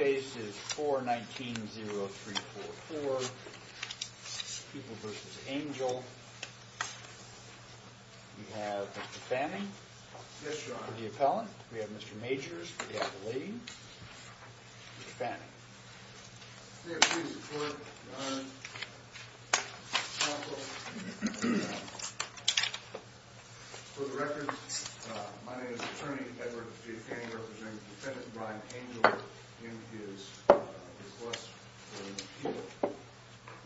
We have Mr. Fanning for the appellant. We have Mr. Majors for the appellee. Mr. Fanning. May it please the court, Your Honor. Counsel. For the record, my name is Attorney Edward F. Fanning representing Defendant Brian Angel in his lawsuit.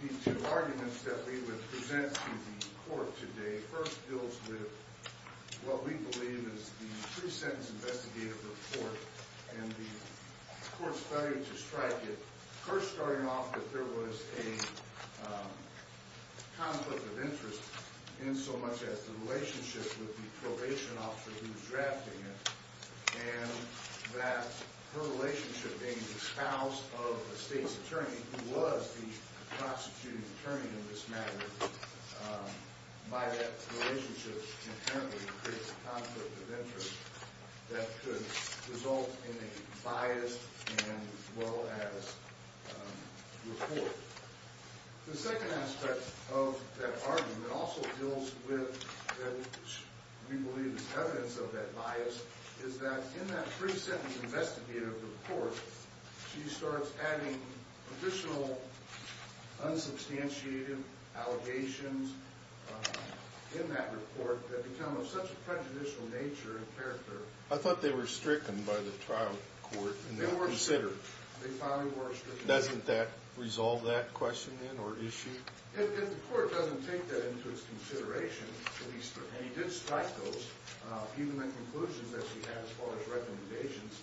These two arguments that we would present to the court today first deals with what we believe is the pre-sentence investigative report and the court's study to strike it first starting off that there was a conflict of interest in so much as the relationship with the probation officer who was drafting it and that her relationship being the spouse of a state's attorney who was the prosecuting attorney in this matter by that relationship inherently creates a conflict of interest that could result in a biased and well-added report. The second aspect of that argument also deals with what we believe is evidence of that bias is that in that pre-sentence investigative report she starts adding additional unsubstantiated allegations in that report that become of such a prejudicial nature and character. I thought they were stricken by the trial court and not considered. They finally were stricken. Doesn't that resolve that question then or issue? If the court doesn't take that into its consideration, and he did strike those, even the conclusions that he had as far as recommendations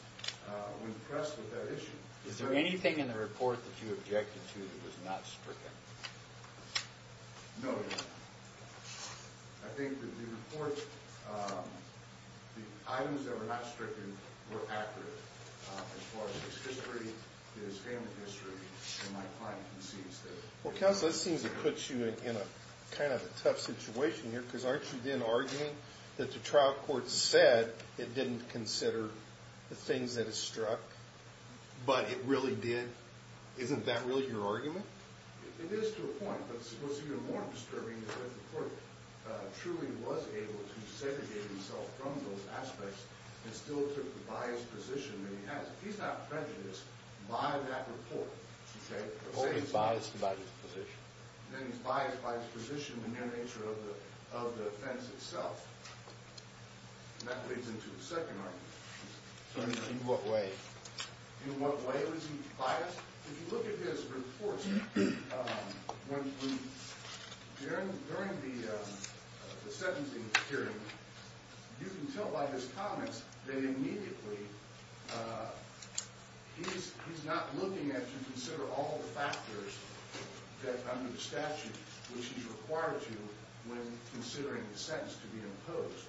when pressed with that issue. Is there anything in the report that you objected to that was not stricken? No, Your Honor. I think that the report, the items that were not stricken were accurate as far as its history, its family history, and my client concedes that. Counsel, this seems to put you in a kind of a tough situation here because aren't you then arguing that the trial court said it didn't consider the things that it struck, but it really did? Isn't that really your argument? It is to a point, but what's even more disturbing is that the court truly was able to segregate himself from those aspects and still took the biased position that he has. He's not prejudiced by that report. He's biased by his position. Then he's biased by his position in the nature of the offense itself, and that leads into the second argument. In what way? In what way was he biased? If you look at his reports during the sentencing hearing, you can tell by his comments that immediately he's not looking to consider all the factors under the statute which he's required to when considering the sentence to be imposed.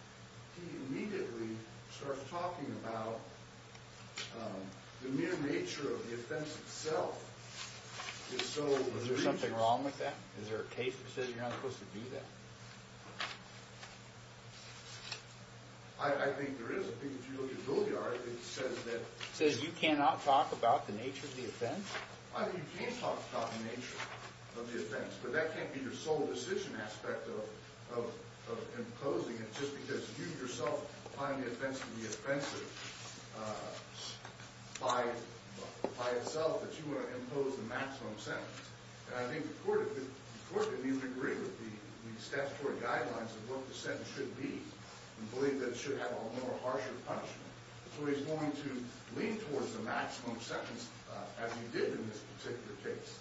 He immediately starts talking about the mere nature of the offense itself. Is there something wrong with that? Is there a case that says you're not supposed to do that? I think there is. If you look at Billyard, it says that— It says you cannot talk about the nature of the offense? You can talk about the nature of the offense, but that can't be your sole decision aspect of imposing it just because you yourself find the offense to be offensive by itself that you want to impose the maximum sentence. I think the court would agree with the statutory guidelines of what the sentence should be and believe that it should have a more harsher punishment. So he's going to lean towards the maximum sentence as he did in this particular case.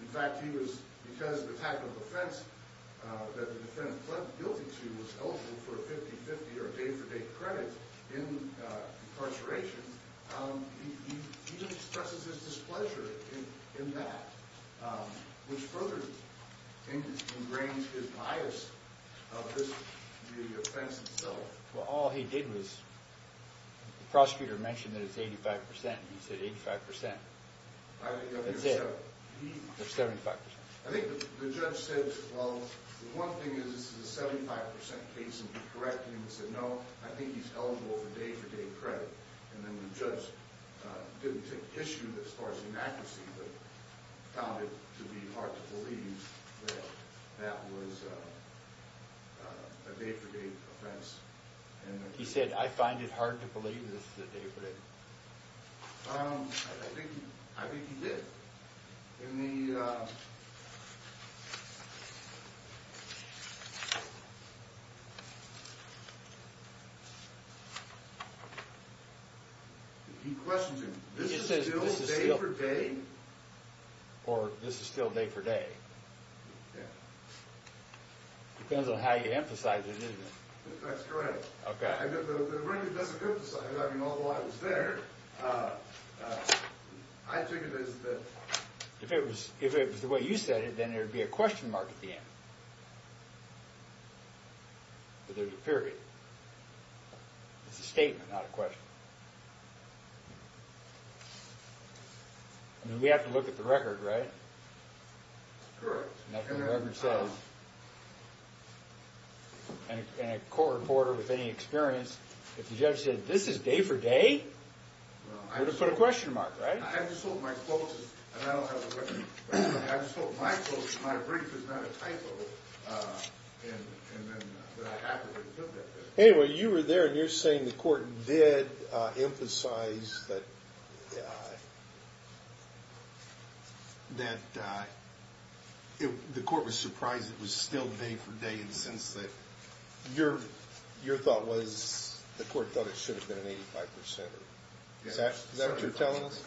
In fact, because the type of offense that the defendant pled guilty to was eligible for a 50-50 or a day-for-day credit in incarceration, he expresses his displeasure in that, which further ingrains his bias of the offense itself. Well, all he did was—the prosecutor mentioned that it's 85 percent, and he said 85 percent. That's it. It's 75 percent. I think the judge said, well, the one thing is this is a 75 percent case, and he corrected him and said, you know, I think he's eligible for day-for-day credit, and then the judge didn't take issue as far as inaccuracy but found it to be hard to believe that that was a day-for-day offense. He said, I find it hard to believe this is a day-for-day. I think he did. He questions him. This is still day-for-day? Or this is still day-for-day? Yeah. Depends on how you emphasize it, isn't it? That's correct. Okay. The record doesn't emphasize it. I mean, although I was there, I took it as the— If it was the way you said it, then there would be a question mark at the end. But there's a period. It's a statement, not a question. I mean, we have to look at the record, right? Correct. Nothing the record says. And a court reporter with any experience, if the judge said, this is day-for-day, you would have put a question mark, right? I just hope my quote is—and I don't have a record. I just hope my quote, my brief, is not a typo. And then I have to look at this. Anyway, you were there, and you're saying the court did emphasize that the court was surprised it was still day-for-day in the sense that your thought was the court thought it should have been an 85 percenter. Is that what you're telling us?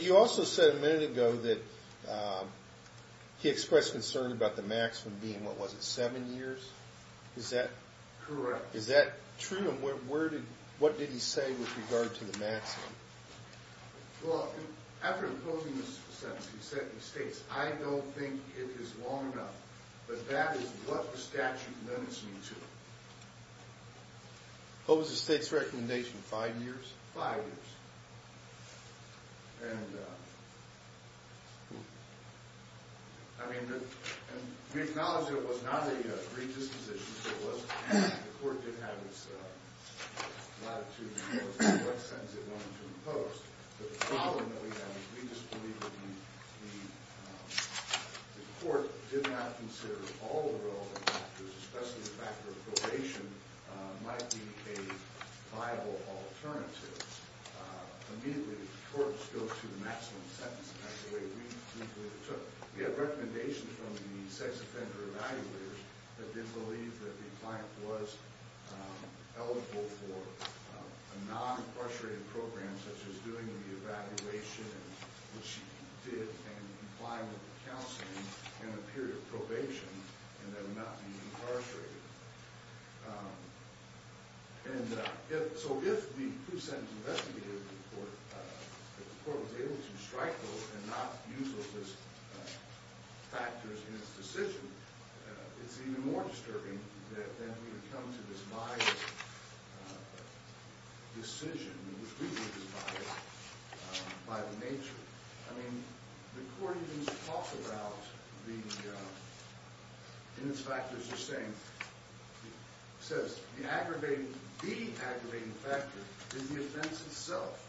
You also said a minute ago that he expressed concern about the maximum being, what was it, seven years? Is that— Correct. Is that true? And what did he say with regard to the maximum? Well, after imposing this sentence, he states, I don't think it is long enough. But that is what the statute limits me to. What was the state's recommendation, five years? Five years. And, I mean, we acknowledge that it was not a redistribution. It was—the court did have its latitude as to what sentence it wanted to impose. But the problem that we have is we just believe that the court did not consider all the relevant factors, especially the factor of probation, might be a viable alternative. Immediately, the courts go to the maximum sentence. And that's the way we believe it took. We have recommendations from the sex offender evaluators that did believe that the client was eligible for a non-incarcerated program, such as doing the evaluation and what she did and complying with the counseling and a period of probation, and that would not be incarcerated. And so if the two-sentence investigative report was able to strike those and not use those factors in its decision, it's even more disturbing that then we would come to this biased decision, which we believe is biased by the nature. I mean, the court even talks about the—in its factors, you're saying—says the aggravating—the aggravating factor is the offense itself.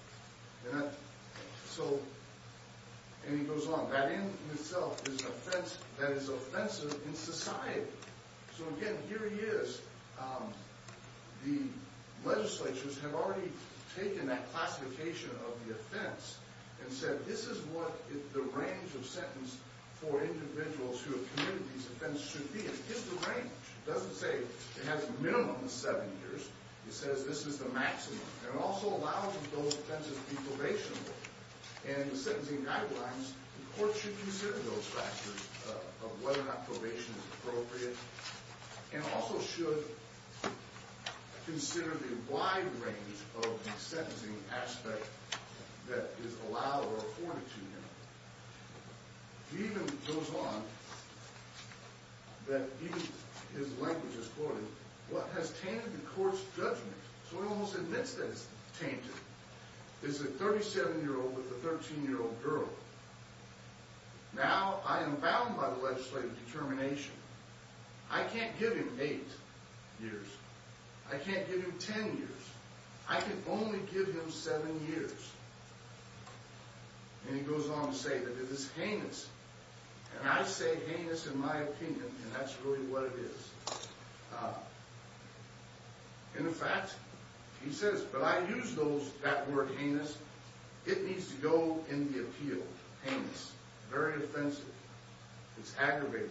And that—so—and he goes on. That in itself is an offense that is offensive in society. So, again, here he is. The legislatures have already taken that classification of the offense and said, this is what the range of sentence for individuals who have committed these offenses should be. It is the range. It doesn't say it has a minimum of seven years. It says this is the maximum. And it also allows that those offenses be probationable. And the sentencing guidelines, the court should consider those factors of whether or not probation is appropriate and also should consider the wide range of the sentencing aspect that is allowed or afforded to him. He even goes on that he—his language is quoted, what has tainted the court's judgment. So it almost admits that it's tainted. This is a 37-year-old with a 13-year-old girl. Now, I am bound by the legislative determination. I can't give him eight years. I can't give him ten years. I can only give him seven years. And he goes on to say that it is heinous. And I say heinous in my opinion, and that's really what it is. In effect, he says, but I use those—that word heinous. It needs to go in the appeal, heinous. Very offensive. It's aggravating.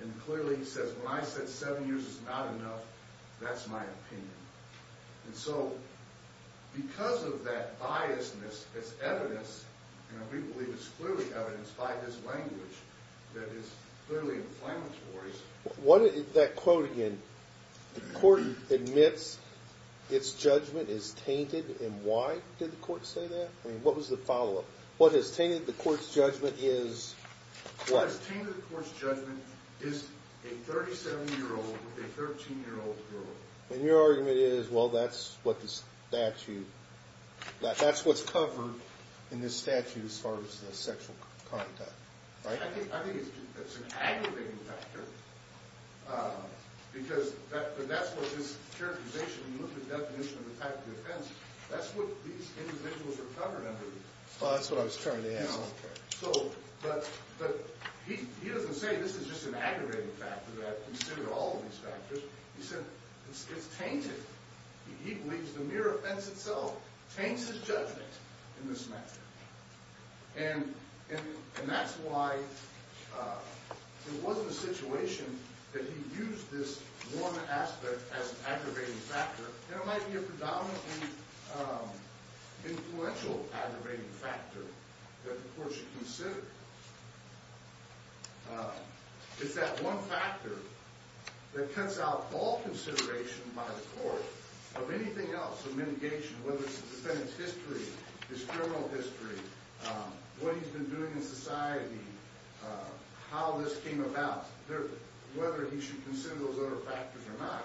And clearly he says, when I said seven years is not enough, that's my opinion. And so because of that biasness as evidence, and we believe it's clearly evidenced by this language that is clearly inflammatory, that quote again, the court admits its judgment is tainted, and why did the court say that? I mean, what was the follow-up? What has tainted the court's judgment is what? What has tainted the court's judgment is a 37-year-old with a 13-year-old girl. And your argument is, well, that's what the statute—that's what's covered in this statute as far as the sexual conduct, right? I think it's an aggravating factor because that's what this characterization, the definition of the type of offense, that's what these individuals are covered under. Oh, that's what I was trying to ask. So, but he doesn't say this is just an aggravating factor that I consider all of these factors. He said it's tainted. He believes the mere offense itself taints his judgment in this matter. And that's why it wasn't a situation that he used this one aspect as an aggravating factor, and it might be a predominantly influential aggravating factor that the court should consider. It's that one factor that cuts out all consideration by the court of anything else, of mitigation, whether it's the defendant's history, his criminal history, what he's been doing in society, how this came about, whether he should consider those other factors or not.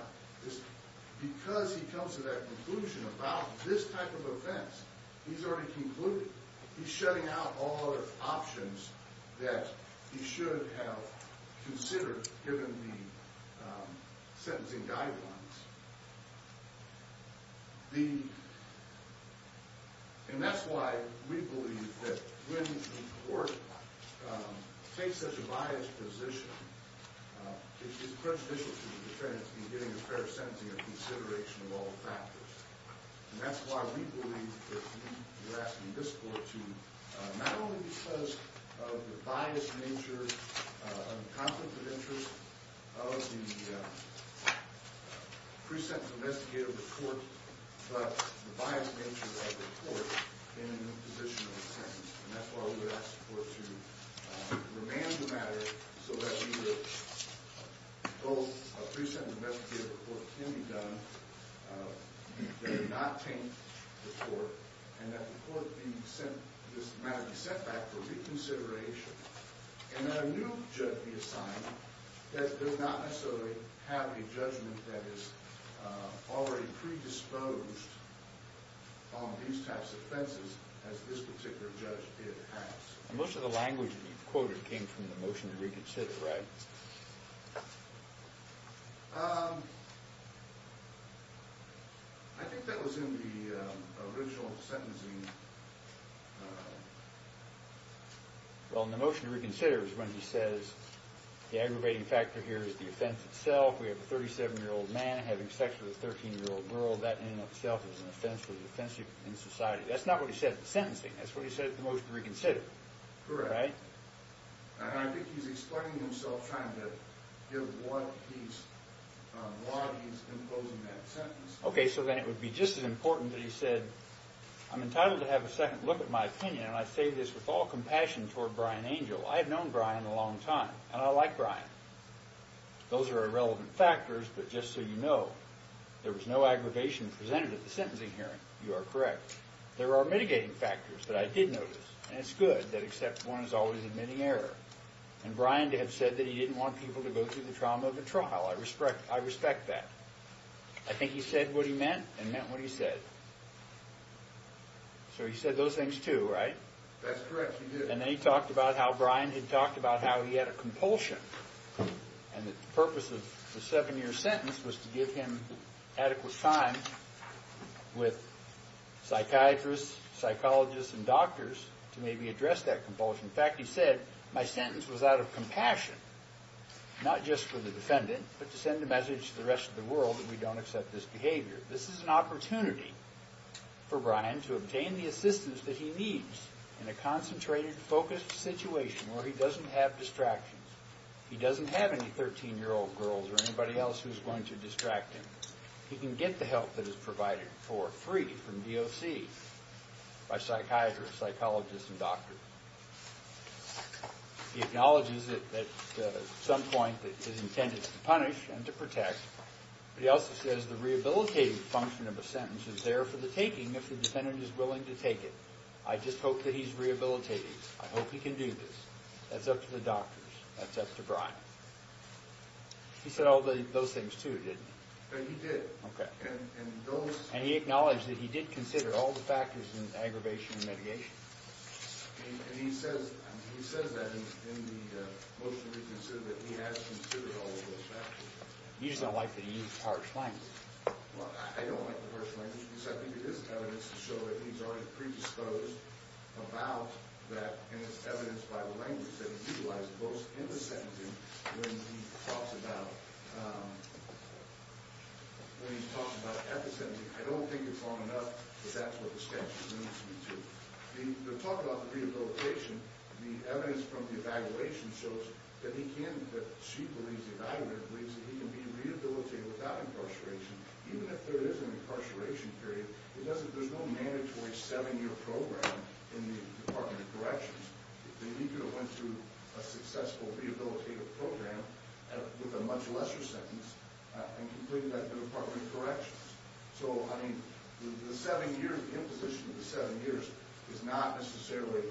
Because he comes to that conclusion about this type of offense, he's already concluded. He's shutting out all other options that he should have considered given the sentencing guidelines. And that's why we believe that when the court takes such a biased position, it's prejudicial to the defendant in getting a fair sentencing and consideration of all factors. And that's why we believe that we're asking this court to, not only because of the biased nature of the conflict of interest of the pre-sentence investigative report, but the biased nature of the court in the position of the sentence. And that's why we would ask the court to remand the matter so that either both a pre-sentence investigative report can be done, that it not taint the court, and that the matter be set back for reconsideration. And that a new judge be assigned that does not necessarily have a judgment that is already predisposed on these types of offenses as this particular judge did have. Most of the language that you quoted came from the motion to reconsider, right? I think that was in the original sentencing. Well, in the motion to reconsider is when he says the aggravating factor here is the offense itself. We have a 37-year-old man having sex with a 13-year-old girl. That in and of itself is an offense that is offensive in society. That's not what he said in the sentencing. That's what he said in the motion to reconsider. Correct. Right? And I think he's explaining himself trying to give what he's imposing in that sentence. Okay, so then it would be just as important that he said, I'm entitled to have a second look at my opinion, and I say this with all compassion toward Brian Angel. I have known Brian a long time, and I like Brian. Those are irrelevant factors, but just so you know, there was no aggravation presented at the sentencing hearing. You are correct. There are mitigating factors that I did notice, and it's good that except one is always admitting error. And Brian did have said that he didn't want people to go through the trauma of a trial. I respect that. I think he said what he meant and meant what he said. So he said those things too, right? That's correct, he did. And then he talked about how Brian had talked about how he had a compulsion, and the purpose of the seven-year sentence was to give him adequate time with psychiatrists, psychologists, and doctors to maybe address that compulsion. In fact, he said, my sentence was out of compassion, not just for the defendant, but to send a message to the rest of the world that we don't accept this behavior. This is an opportunity for Brian to obtain the assistance that he needs in a concentrated, focused situation where he doesn't have distractions. He doesn't have any 13-year-old girls or anybody else who's going to distract him. He can get the help that is provided for free from DOC by psychiatrists, psychologists, and doctors. He acknowledges at some point that it is intended to punish and to protect, but he also says the rehabilitative function of a sentence is there for the taking if the defendant is willing to take it. I just hope that he's rehabilitating. I hope he can do this. That's up to the doctors. That's up to Brian. He said all those things too, didn't he? He did. And he acknowledged that he did consider all the factors in aggravation and mediation. And he says that in the motion to reconsider that he has considered all of those factors. You just don't like that he used harsh language. Well, I don't like the harsh language because I think it is evidence to show that he's already predisposed about that, and it's evidenced by the language that he utilized both in the sentencing when he talks about episemes. I don't think it's long enough, but that's what the statute leads me to. The talk about the rehabilitation, the evidence from the evaluation shows that he can, that she believes, the evaluator believes, that he can be rehabilitated without incarceration. Even if there is an incarceration period, there's no mandatory seven-year program in the Department of Corrections. They need to have went through a successful rehabilitative program with a much lesser sentence and completed that in the Department of Corrections. So, I mean, the seven years, the imposition of the seven years is not necessarily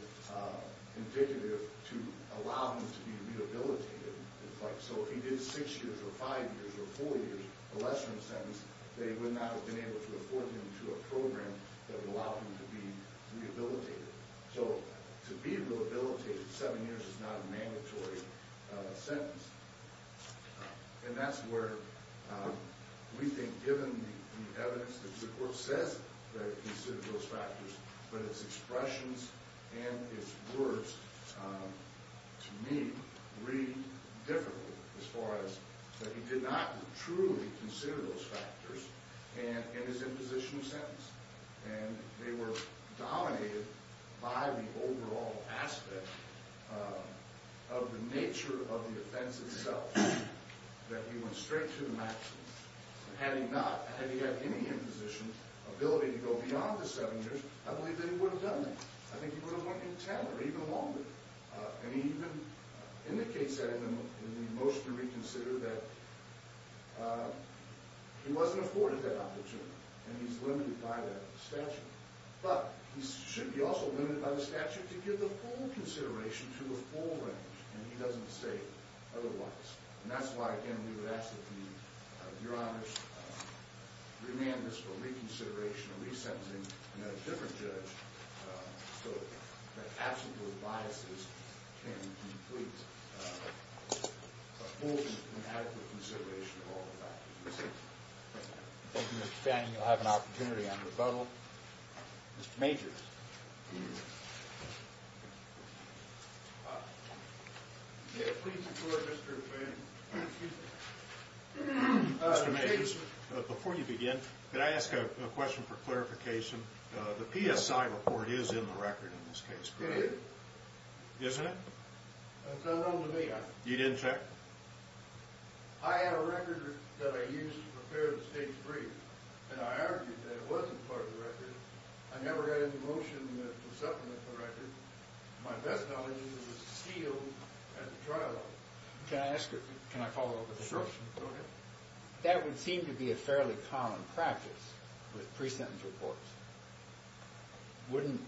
indicative to allow him to be rehabilitated. So if he did six years or five years or four years, a lesser sentence, they would not have been able to afford him to a program that would allow him to be rehabilitated. So to be rehabilitated seven years is not a mandatory sentence. And that's where we think, given the evidence that the court says that he considered those factors, but his expressions and his words to me read differently as far as that he did not truly consider those factors in his imposition of sentence. And they were dominated by the overall aspect of the nature of the offense itself, that he went straight to the maximum. Had he not, had he had any imposition ability to go beyond the seven years, I believe that he would have done that. I think he would have went in ten or even longer. And he even indicates that in the motion to reconsider that he wasn't afforded that opportunity. And he's limited by that statute. But he should be also limited by the statute to give the full consideration to the full range. And he doesn't say otherwise. And that's why, again, we would ask that he, Your Honors, remand this for reconsideration, a resentencing, and a different judge so that absolute biases can complete a full and adequate consideration of all the factors. Thank you, Mr. Fanning. You'll have an opportunity on rebuttal. Mr. Majors. Mr. Majors, before you begin, could I ask a question for clarification? The PSI report is in the record in this case, correct? It is. Isn't it? It's unknown to me. You didn't check? I have a record that I used to prepare the state's brief, and I argued that it wasn't part of the record. I never got into motion to supplement the record. My best knowledge is it was sealed at the trial. Can I ask a question? Can I follow up with a question? Sure. Okay. That would seem to be a fairly common practice with pre-sentence reports. Wouldn't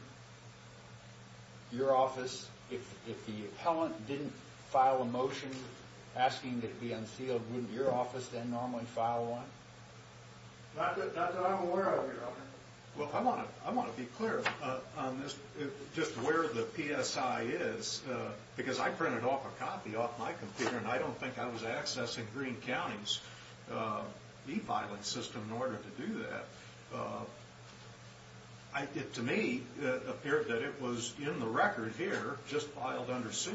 your office, if the appellant didn't file a motion asking that it be unsealed, wouldn't your office then normally file one? Not that I'm aware of, Your Honor. Well, I want to be clear on this, just where the PSI is, because I printed off a copy off my computer, and I don't think I was accessing Green County's e-violence system in order to do that. To me, it appeared that it was in the record here, just filed under seal.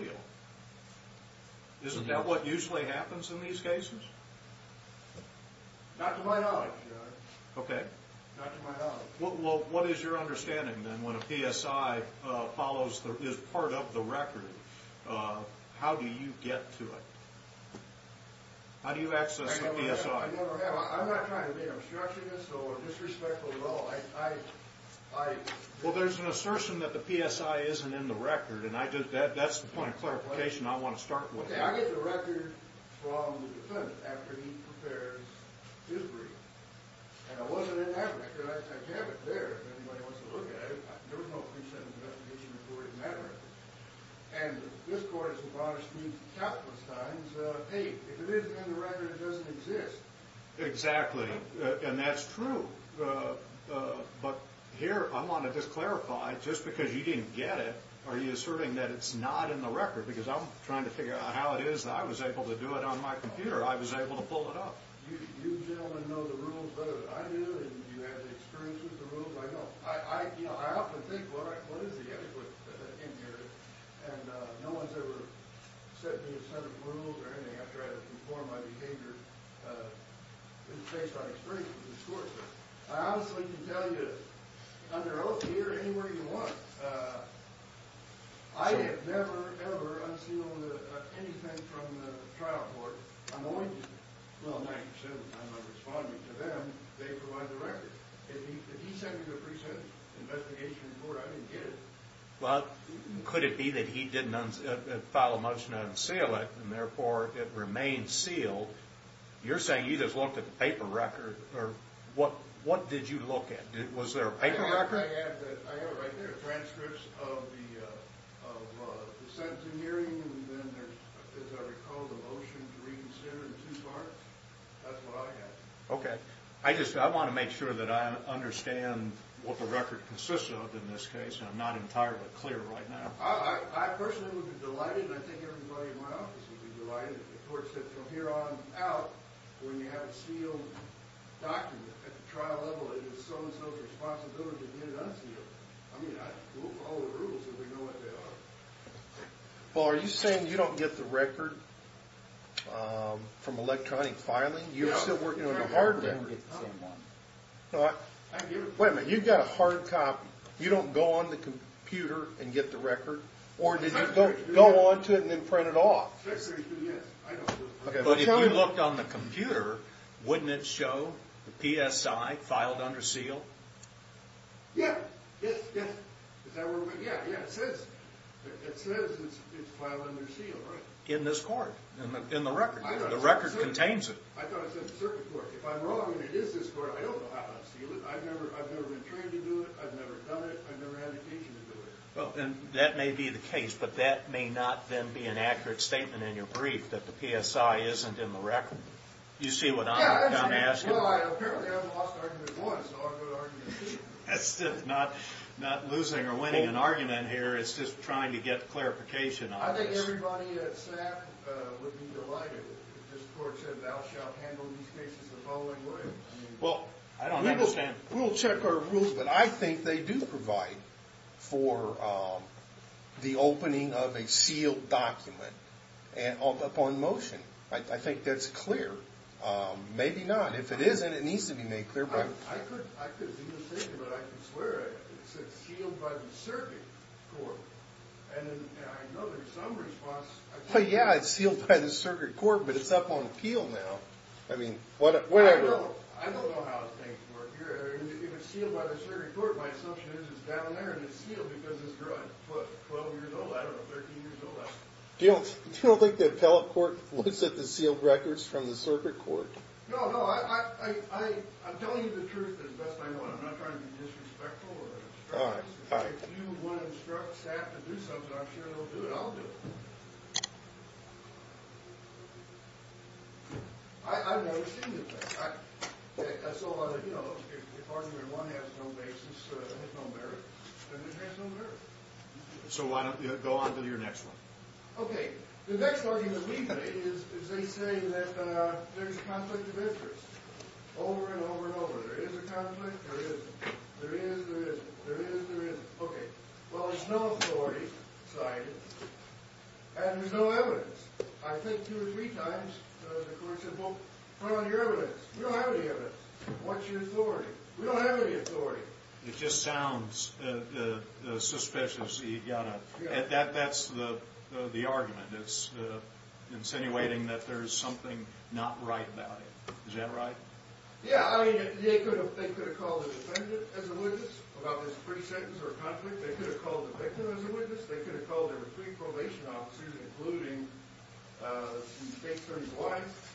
Isn't that what usually happens in these cases? Not to my knowledge, Your Honor. Okay. Not to my knowledge. Well, what is your understanding, then, when a PSI is part of the record, how do you get to it? How do you access the PSI? I never have. I'm not trying to be obstructionist or disrespectful at all. Well, there's an assertion that the PSI isn't in the record, and that's the point of clarification I want to start with. Okay. I get the record from the defendant after he prepares his brief, and it wasn't in that record. I kept it there if anybody wants to look at it. There was no pre-sentence investigation report in that record. And this Court has admonished me countless times, hey, if it isn't in the record, it doesn't exist. Exactly, and that's true. But here I want to just clarify, just because you didn't get it, are you asserting that it's not in the record? Because I'm trying to figure out how it is that I was able to do it on my computer. I was able to pull it up. You gentlemen know the rules better than I do, and you have the experience with the rules, I know. You know, I often think, well, what is the etiquette in here? And no one's ever set me a set of rules or anything after I've performed my behavior based on experience with this Court. I honestly can tell you, under oath here, anywhere you want, I have never, ever unsealed anything from the trial board. I'm only, well, 90 percent of the time I'm responding to them. They provide the record. If he sent me the pre-sentence investigation report, I didn't get it. Well, could it be that he didn't file a motion to unseal it, and therefore it remains sealed? You're saying you just looked at the paper record. What did you look at? Was there a paper record? I have it right there, transcripts of the sentencing hearing, and then there's, as I recall, the motion to reconsider in two parts. That's what I have. Okay. I just want to make sure that I understand what the record consists of in this case, and I'm not entirely clear right now. I personally would be delighted, and I think everybody in my office would be delighted if the Court said from here on out, when you have a sealed document at the trial level, it is so-and-so's responsibility to get it unsealed. I mean, we'll follow the rules if we know what they are. Well, are you saying you don't get the record from electronic filing? You're still working on the hard record. No, I don't get the same one. Wait a minute. You've got a hard copy. You don't go on the computer and get the record? Or did you go on to it and then print it off? Yes, I do. But if you looked on the computer, wouldn't it show the PSI filed under seal? Yes. Yes, yes. Is that where we're going? Yes, yes. It says it's filed under seal, right? In this court, in the record. The record contains it. I thought it said circuit court. If I'm wrong and it is this court, I don't know how to unseal it. I've never been trained to do it. I've never done it. I've never had occasion to do it. Well, then that may be the case, but that may not then be an accurate statement in your brief, that the PSI isn't in the record. Do you see what I'm asking? Well, apparently I lost argument once, so I'm going to argue again. That's not losing or winning an argument here. It's just trying to get clarification on this. I think everybody at SAP would be delighted if this court said, thou shalt handle these cases the following way. I don't understand. We'll check our rules, but I think they do provide for the opening of a sealed document upon motion. I think that's clear. Maybe not. If it isn't, it needs to be made clear. I could be mistaken, but I can swear it. It said sealed by the circuit court. I know there's some response. Yeah, it's sealed by the circuit court, but it's up on appeal now. I don't know how things work here. If it's sealed by the circuit court, my assumption is it's down there, and it's sealed because it's 12 years old, I don't know, 13 years old. You don't think the appellate court looks at the sealed records from the circuit court? No, no. I'm telling you the truth as best I know it. I'm not trying to be disrespectful. All right, all right. If you want to instruct staff to do something, I'm sure they'll do it. I'll do it. I've never seen this. That's all I know. If argument one has no basis and has no merit, then it has no merit. So why don't you go on to your next one? Okay. The next argument we made is they say that there's conflict of interest over and over and over. There is a conflict. There isn't. There is. There isn't. There is. There isn't. Okay. Well, there's no authority side, and there's no evidence. I think two or three times the court said, well, what about your evidence? We don't have any evidence. What's your authority? We don't have any authority. It just sounds suspicious. That's the argument. It's insinuating that there's something not right about it. Is that right? Yeah. I mean, they could have called a defendant as a witness about this pre-sentence or conflict. They could have called the victim as a witness. They could have called their three probation officers, including the victim's wife,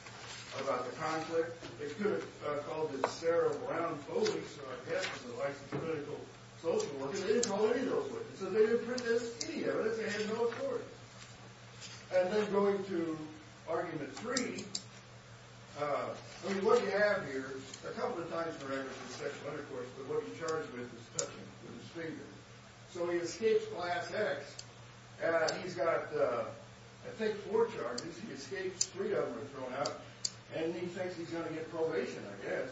about the conflict. They could have called the Sarah Brown police, the licensed political social worker. They didn't call any of those witnesses. They didn't print any evidence. They had no authority. And then going to argument three, I mean, what you have here is a couple of times for records of sexual intercourse, but what he's charged with is touching with his fingers. So he escapes class X. He's got, I think, four charges. He escapes three of them are thrown out, and he thinks he's going to get probation, I guess.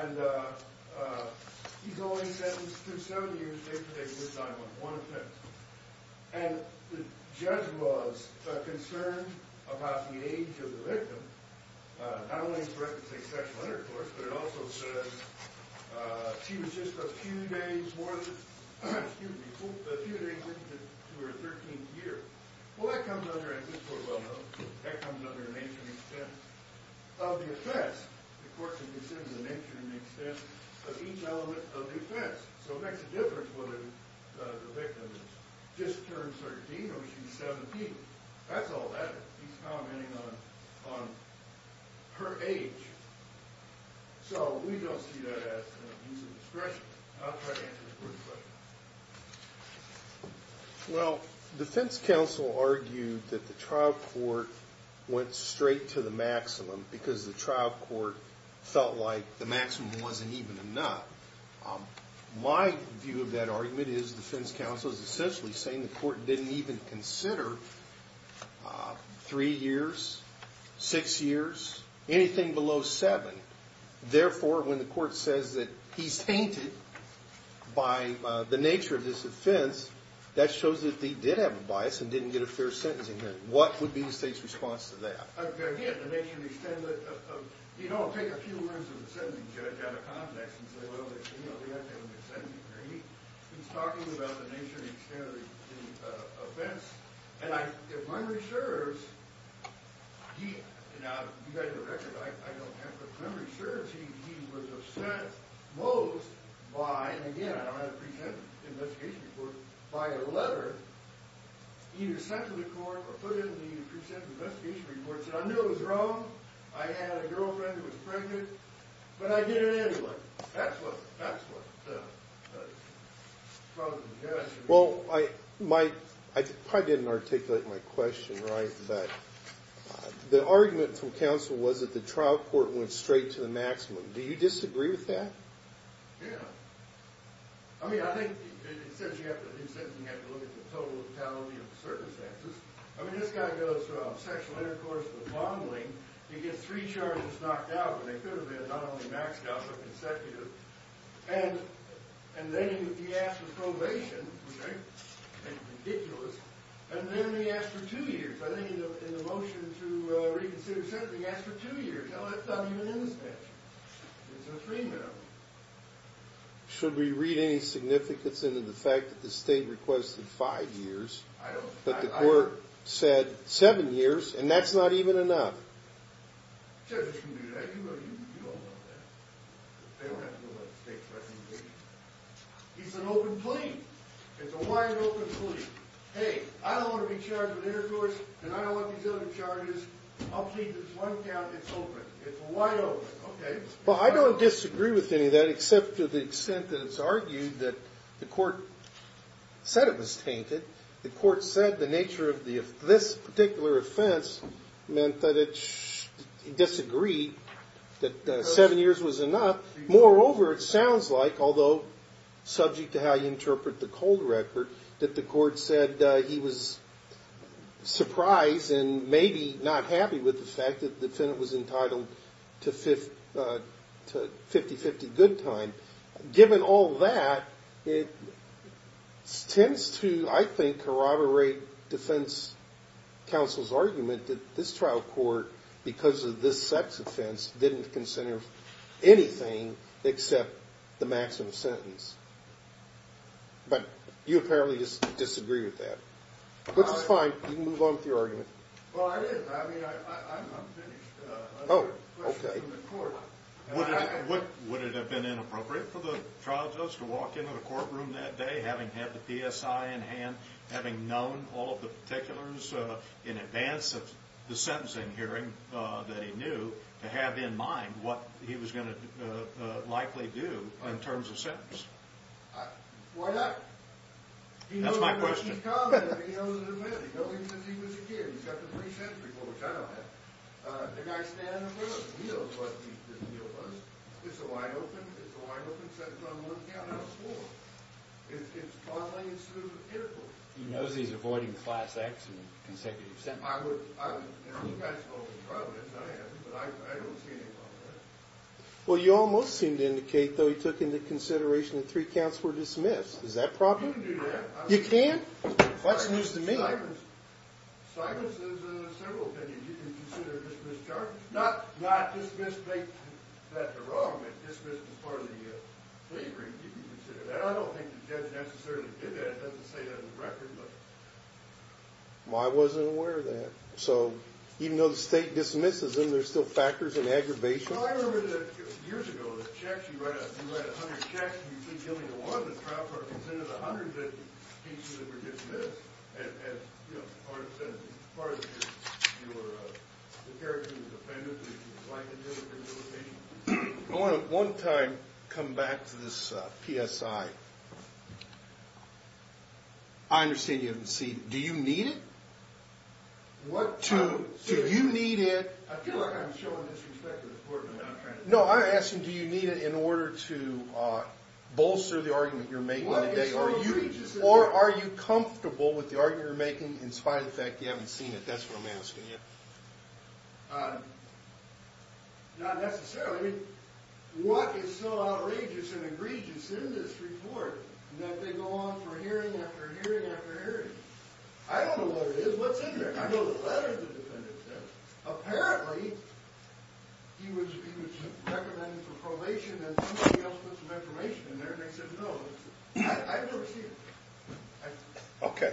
And he's only sentenced to 70 years' jail time with one offense. And the judge was concerned about the age of the victim. Not only does the record say sexual intercourse, but it also says she was just a few days more than, excuse me, a few days into her 13th year. Well, that comes under, and this court will know, that comes under an ancient extent of the offense. The court considers an ancient extent of each element of the offense. So it makes a difference whether the victim is just turned 13 or she's 17. That's all that is. He's commenting on her age. So we don't see that as an abuse of discretion. I'll try to answer the court's question. Well, defense counsel argued that the trial court went straight to the maximum because the trial court felt like the maximum wasn't even enough. My view of that argument is defense counsel is essentially saying the court didn't even consider three years, six years, anything below seven. Therefore, when the court says that he's tainted by the nature of this offense, that shows that they did have a bias and didn't get a fair sentencing hearing. What would be the state's response to that? Again, the nature of the extent of it. You know, I'll take a few words of a sentencing judge out of context and say, well, they have to have an extension hearing. He's talking about the nature and extent of the offense. And if Munroe serves, he, now, you've got your record. I don't have it, but if Munroe serves, he was upset most by, and again, I don't have a present investigation report, by a letter either sent to the court or put in the present investigation report, said, I knew it was wrong. I had a girlfriend who was pregnant, but I did it anyway. That's what the problem is. Well, I probably didn't articulate my question right, but the argument from counsel was that the trial court went straight to the maximum. Do you disagree with that? Yeah. I mean, I think it says you have to look at the total lethality of the circumstances. I mean, this guy goes from sexual intercourse to fondling. He gets three charges knocked out, and they could have been not only maxed out but consecutive. And then he asked for probation, which I think is ridiculous, and then he asked for two years. I think in the motion to reconsider sentencing, he asked for two years. No, that's not even in the statute. It's a three-minute one. Should we read any significance into the fact that the state requested five years, but the court said seven years, and that's not even enough? The judges can do that. You all know that. They don't have to know about the state's recommendation. It's an open plea. It's a wide open plea. Hey, I don't want to be charged with intercourse, and I don't want these other charges. I'll plead this one count. It's open. It's wide open. Okay. Well, I don't disagree with any of that, except to the extent that it's argued that the court said it was tainted. The court said the nature of this particular offense meant that it disagreed, that seven years was enough. Moreover, it sounds like, although subject to how you interpret the cold record, that the court said he was surprised and maybe not happy with the fact that the defendant was entitled to 50-50 good time. Given all that, it tends to, I think, corroborate defense counsel's argument that this trial court, because of this sex offense, didn't consider anything except the maximum sentence. But you apparently disagree with that, which is fine. You can move on with your argument. Well, I did. I mean, I'm finished. Oh, okay. Would it have been inappropriate for the trial judge to walk into the courtroom that day, having had the PSI in hand, having known all of the particulars in advance of the sentencing hearing that he knew, to have in mind what he was going to likely do in terms of sentence? Why not? That's my question. He knows the person's comment. He knows his admit. He knows he says he was a kid. He's got the free sentence before the trial. The guy's standing in front of him. He knows what the deal was. It's a wide open. It's a wide open sentence on one count out of four. It's toddling and smooth and pitiful. He knows he's avoiding Class X and consecutive sentences. I would. I would. You guys spoke in private, as I have, but I don't see any problem with that. Well, you almost seem to indicate, though, he took into consideration that three counts were dismissed. Is that a problem? You can do that. You can? That's news to me. Simons has several opinions. You can consider a dismissed charge. Not dismissed to make that the wrong, but dismissed as part of the slavery. You can consider that. I don't think the judge necessarily did that. It doesn't say that in the record. Well, I wasn't aware of that. So even though the state dismisses them, there's still factors and aggravation? Well, I remember years ago, the checks. You write 100 checks, and you keep killing the law. I'm going to try for a consent of the hundreds of cases that were dismissed as part of your character as a defendant, that you would like to do with this litigation. I want to, one time, come back to this PSI. I understand you haven't seen it. Do you need it? What? Do you need it? No, I'm asking, do you need it in order to bolster the argument you're making today? Or are you comfortable with the argument you're making in spite of the fact you haven't seen it? That's what I'm asking you. Not necessarily. What is so outrageous and egregious in this report that they go on for hearing after hearing after hearing? I don't know what it is. What's in there? I know the letters the defendant sent. Apparently, he was recommended for probation, and somebody else put some information in there, and they said no. I've never seen it. Okay.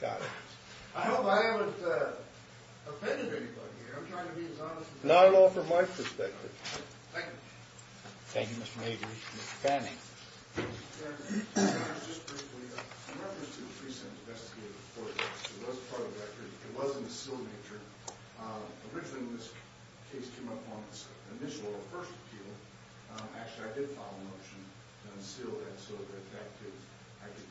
Got it. I hope I haven't offended anybody here. I'm trying to be as honest as I can. Not at all from my perspective. Thank you. Thank you, Mr. Mabry. Mr. Fanning. Thank you, Mr. Chairman. Just briefly, in reference to the pre-sentence investigative report, it was part of the record. It was in the sealed nature. Originally, when this case came up on the initial or first appeal, actually, I did file a motion to unseal that, so that I could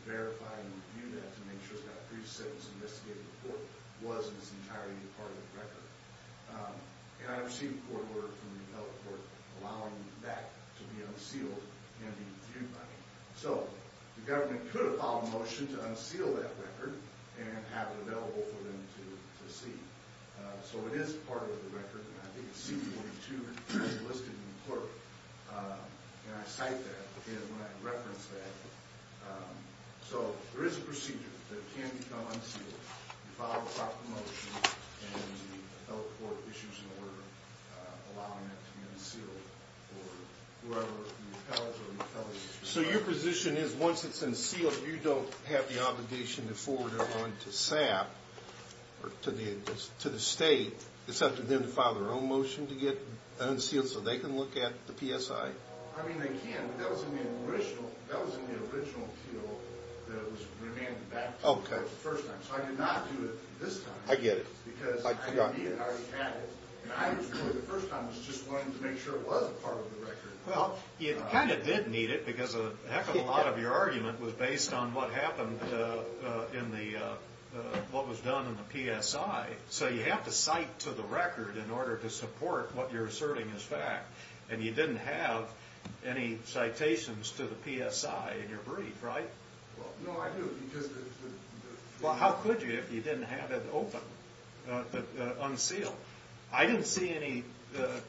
verify and review that to make sure that the pre-sentence investigative report was in its entirety part of the record. And I received a court order from the appellate court allowing that to be unsealed and reviewed by me. So the government could have filed a motion to unseal that record and have it available for them to see. So it is part of the record, and I think CD-42 is listed in the court. And I cite that when I reference that. So there is a procedure that can become unsealed. You file a proper motion, and the appellate court issues an order allowing that to be unsealed for whoever the appellate is. So your position is once it's unsealed, you don't have the obligation to forward it on to SAP or to the state, except for them to file their own motion to get it unsealed so they can look at the PSI? I mean, they can, but that was in the original appeal that was remanded back to the court the first time. So I did not do it this time. I get it. Because I didn't need it, I already had it. And I, the first time, was just wanting to make sure it was a part of the record. Well, you kind of did need it, because a heck of a lot of your argument was based on what happened in the, what was done in the PSI. So you have to cite to the record in order to support what you're asserting is fact. And you didn't have any citations to the PSI in your brief, right? No, I do. Well, how could you if you didn't have it open, unsealed? I didn't see any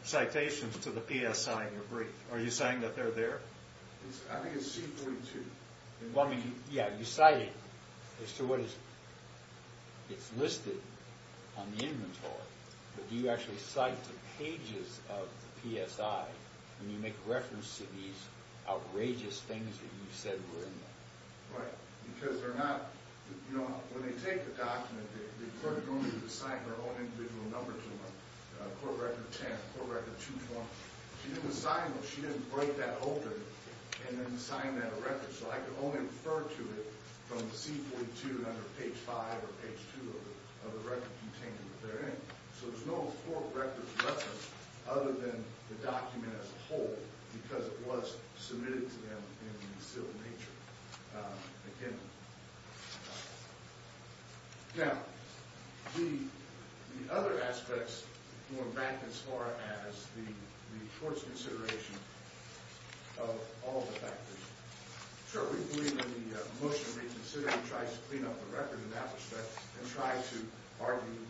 citations to the PSI in your brief. Are you saying that they're there? I think it's C-32. Well, I mean, yeah, you cite it as to what is, it's listed on the inventory, but do you actually cite the pages of the PSI when you make reference to these outrageous things that you said were in there? Right. Because they're not, you know, when they take the document, the clerk only assigned her own individual numbers to them, court record 10, court record 220. She didn't assign them, she didn't break that open and then assign that a record. So I could only refer to it from the C-42 under page 5 or page 2 of the record container that they're in. So there's no court record to reference other than the document as a whole, because it was submitted to them in the sealed nature. Now, the other aspects going back as far as the court's consideration of all the factors. Sure, we believe in the motion reconsidering tries to clean up the record in that respect and try to argue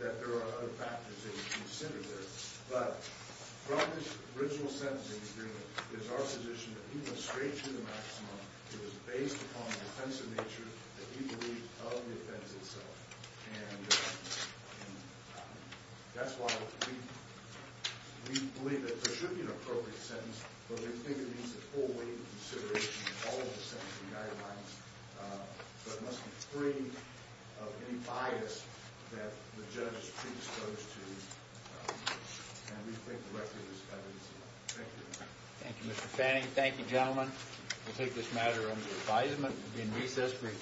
that there are other factors that you consider there. But from this original sentencing agreement, it is our position that he went straight to the maximum. It was based upon the defensive nature that he believed of the offense itself. And that's why we believe that there should be an appropriate sentence, but we think it needs a full weight of consideration of all of the sentencing guidelines but must be free of any bias that the judge is predisposed to. And we think the record is kind of easy. Thank you. Thank you, Mr. Fanning. Thank you, gentlemen. We'll take this matter under advisement. We'll be in recess for a few minutes.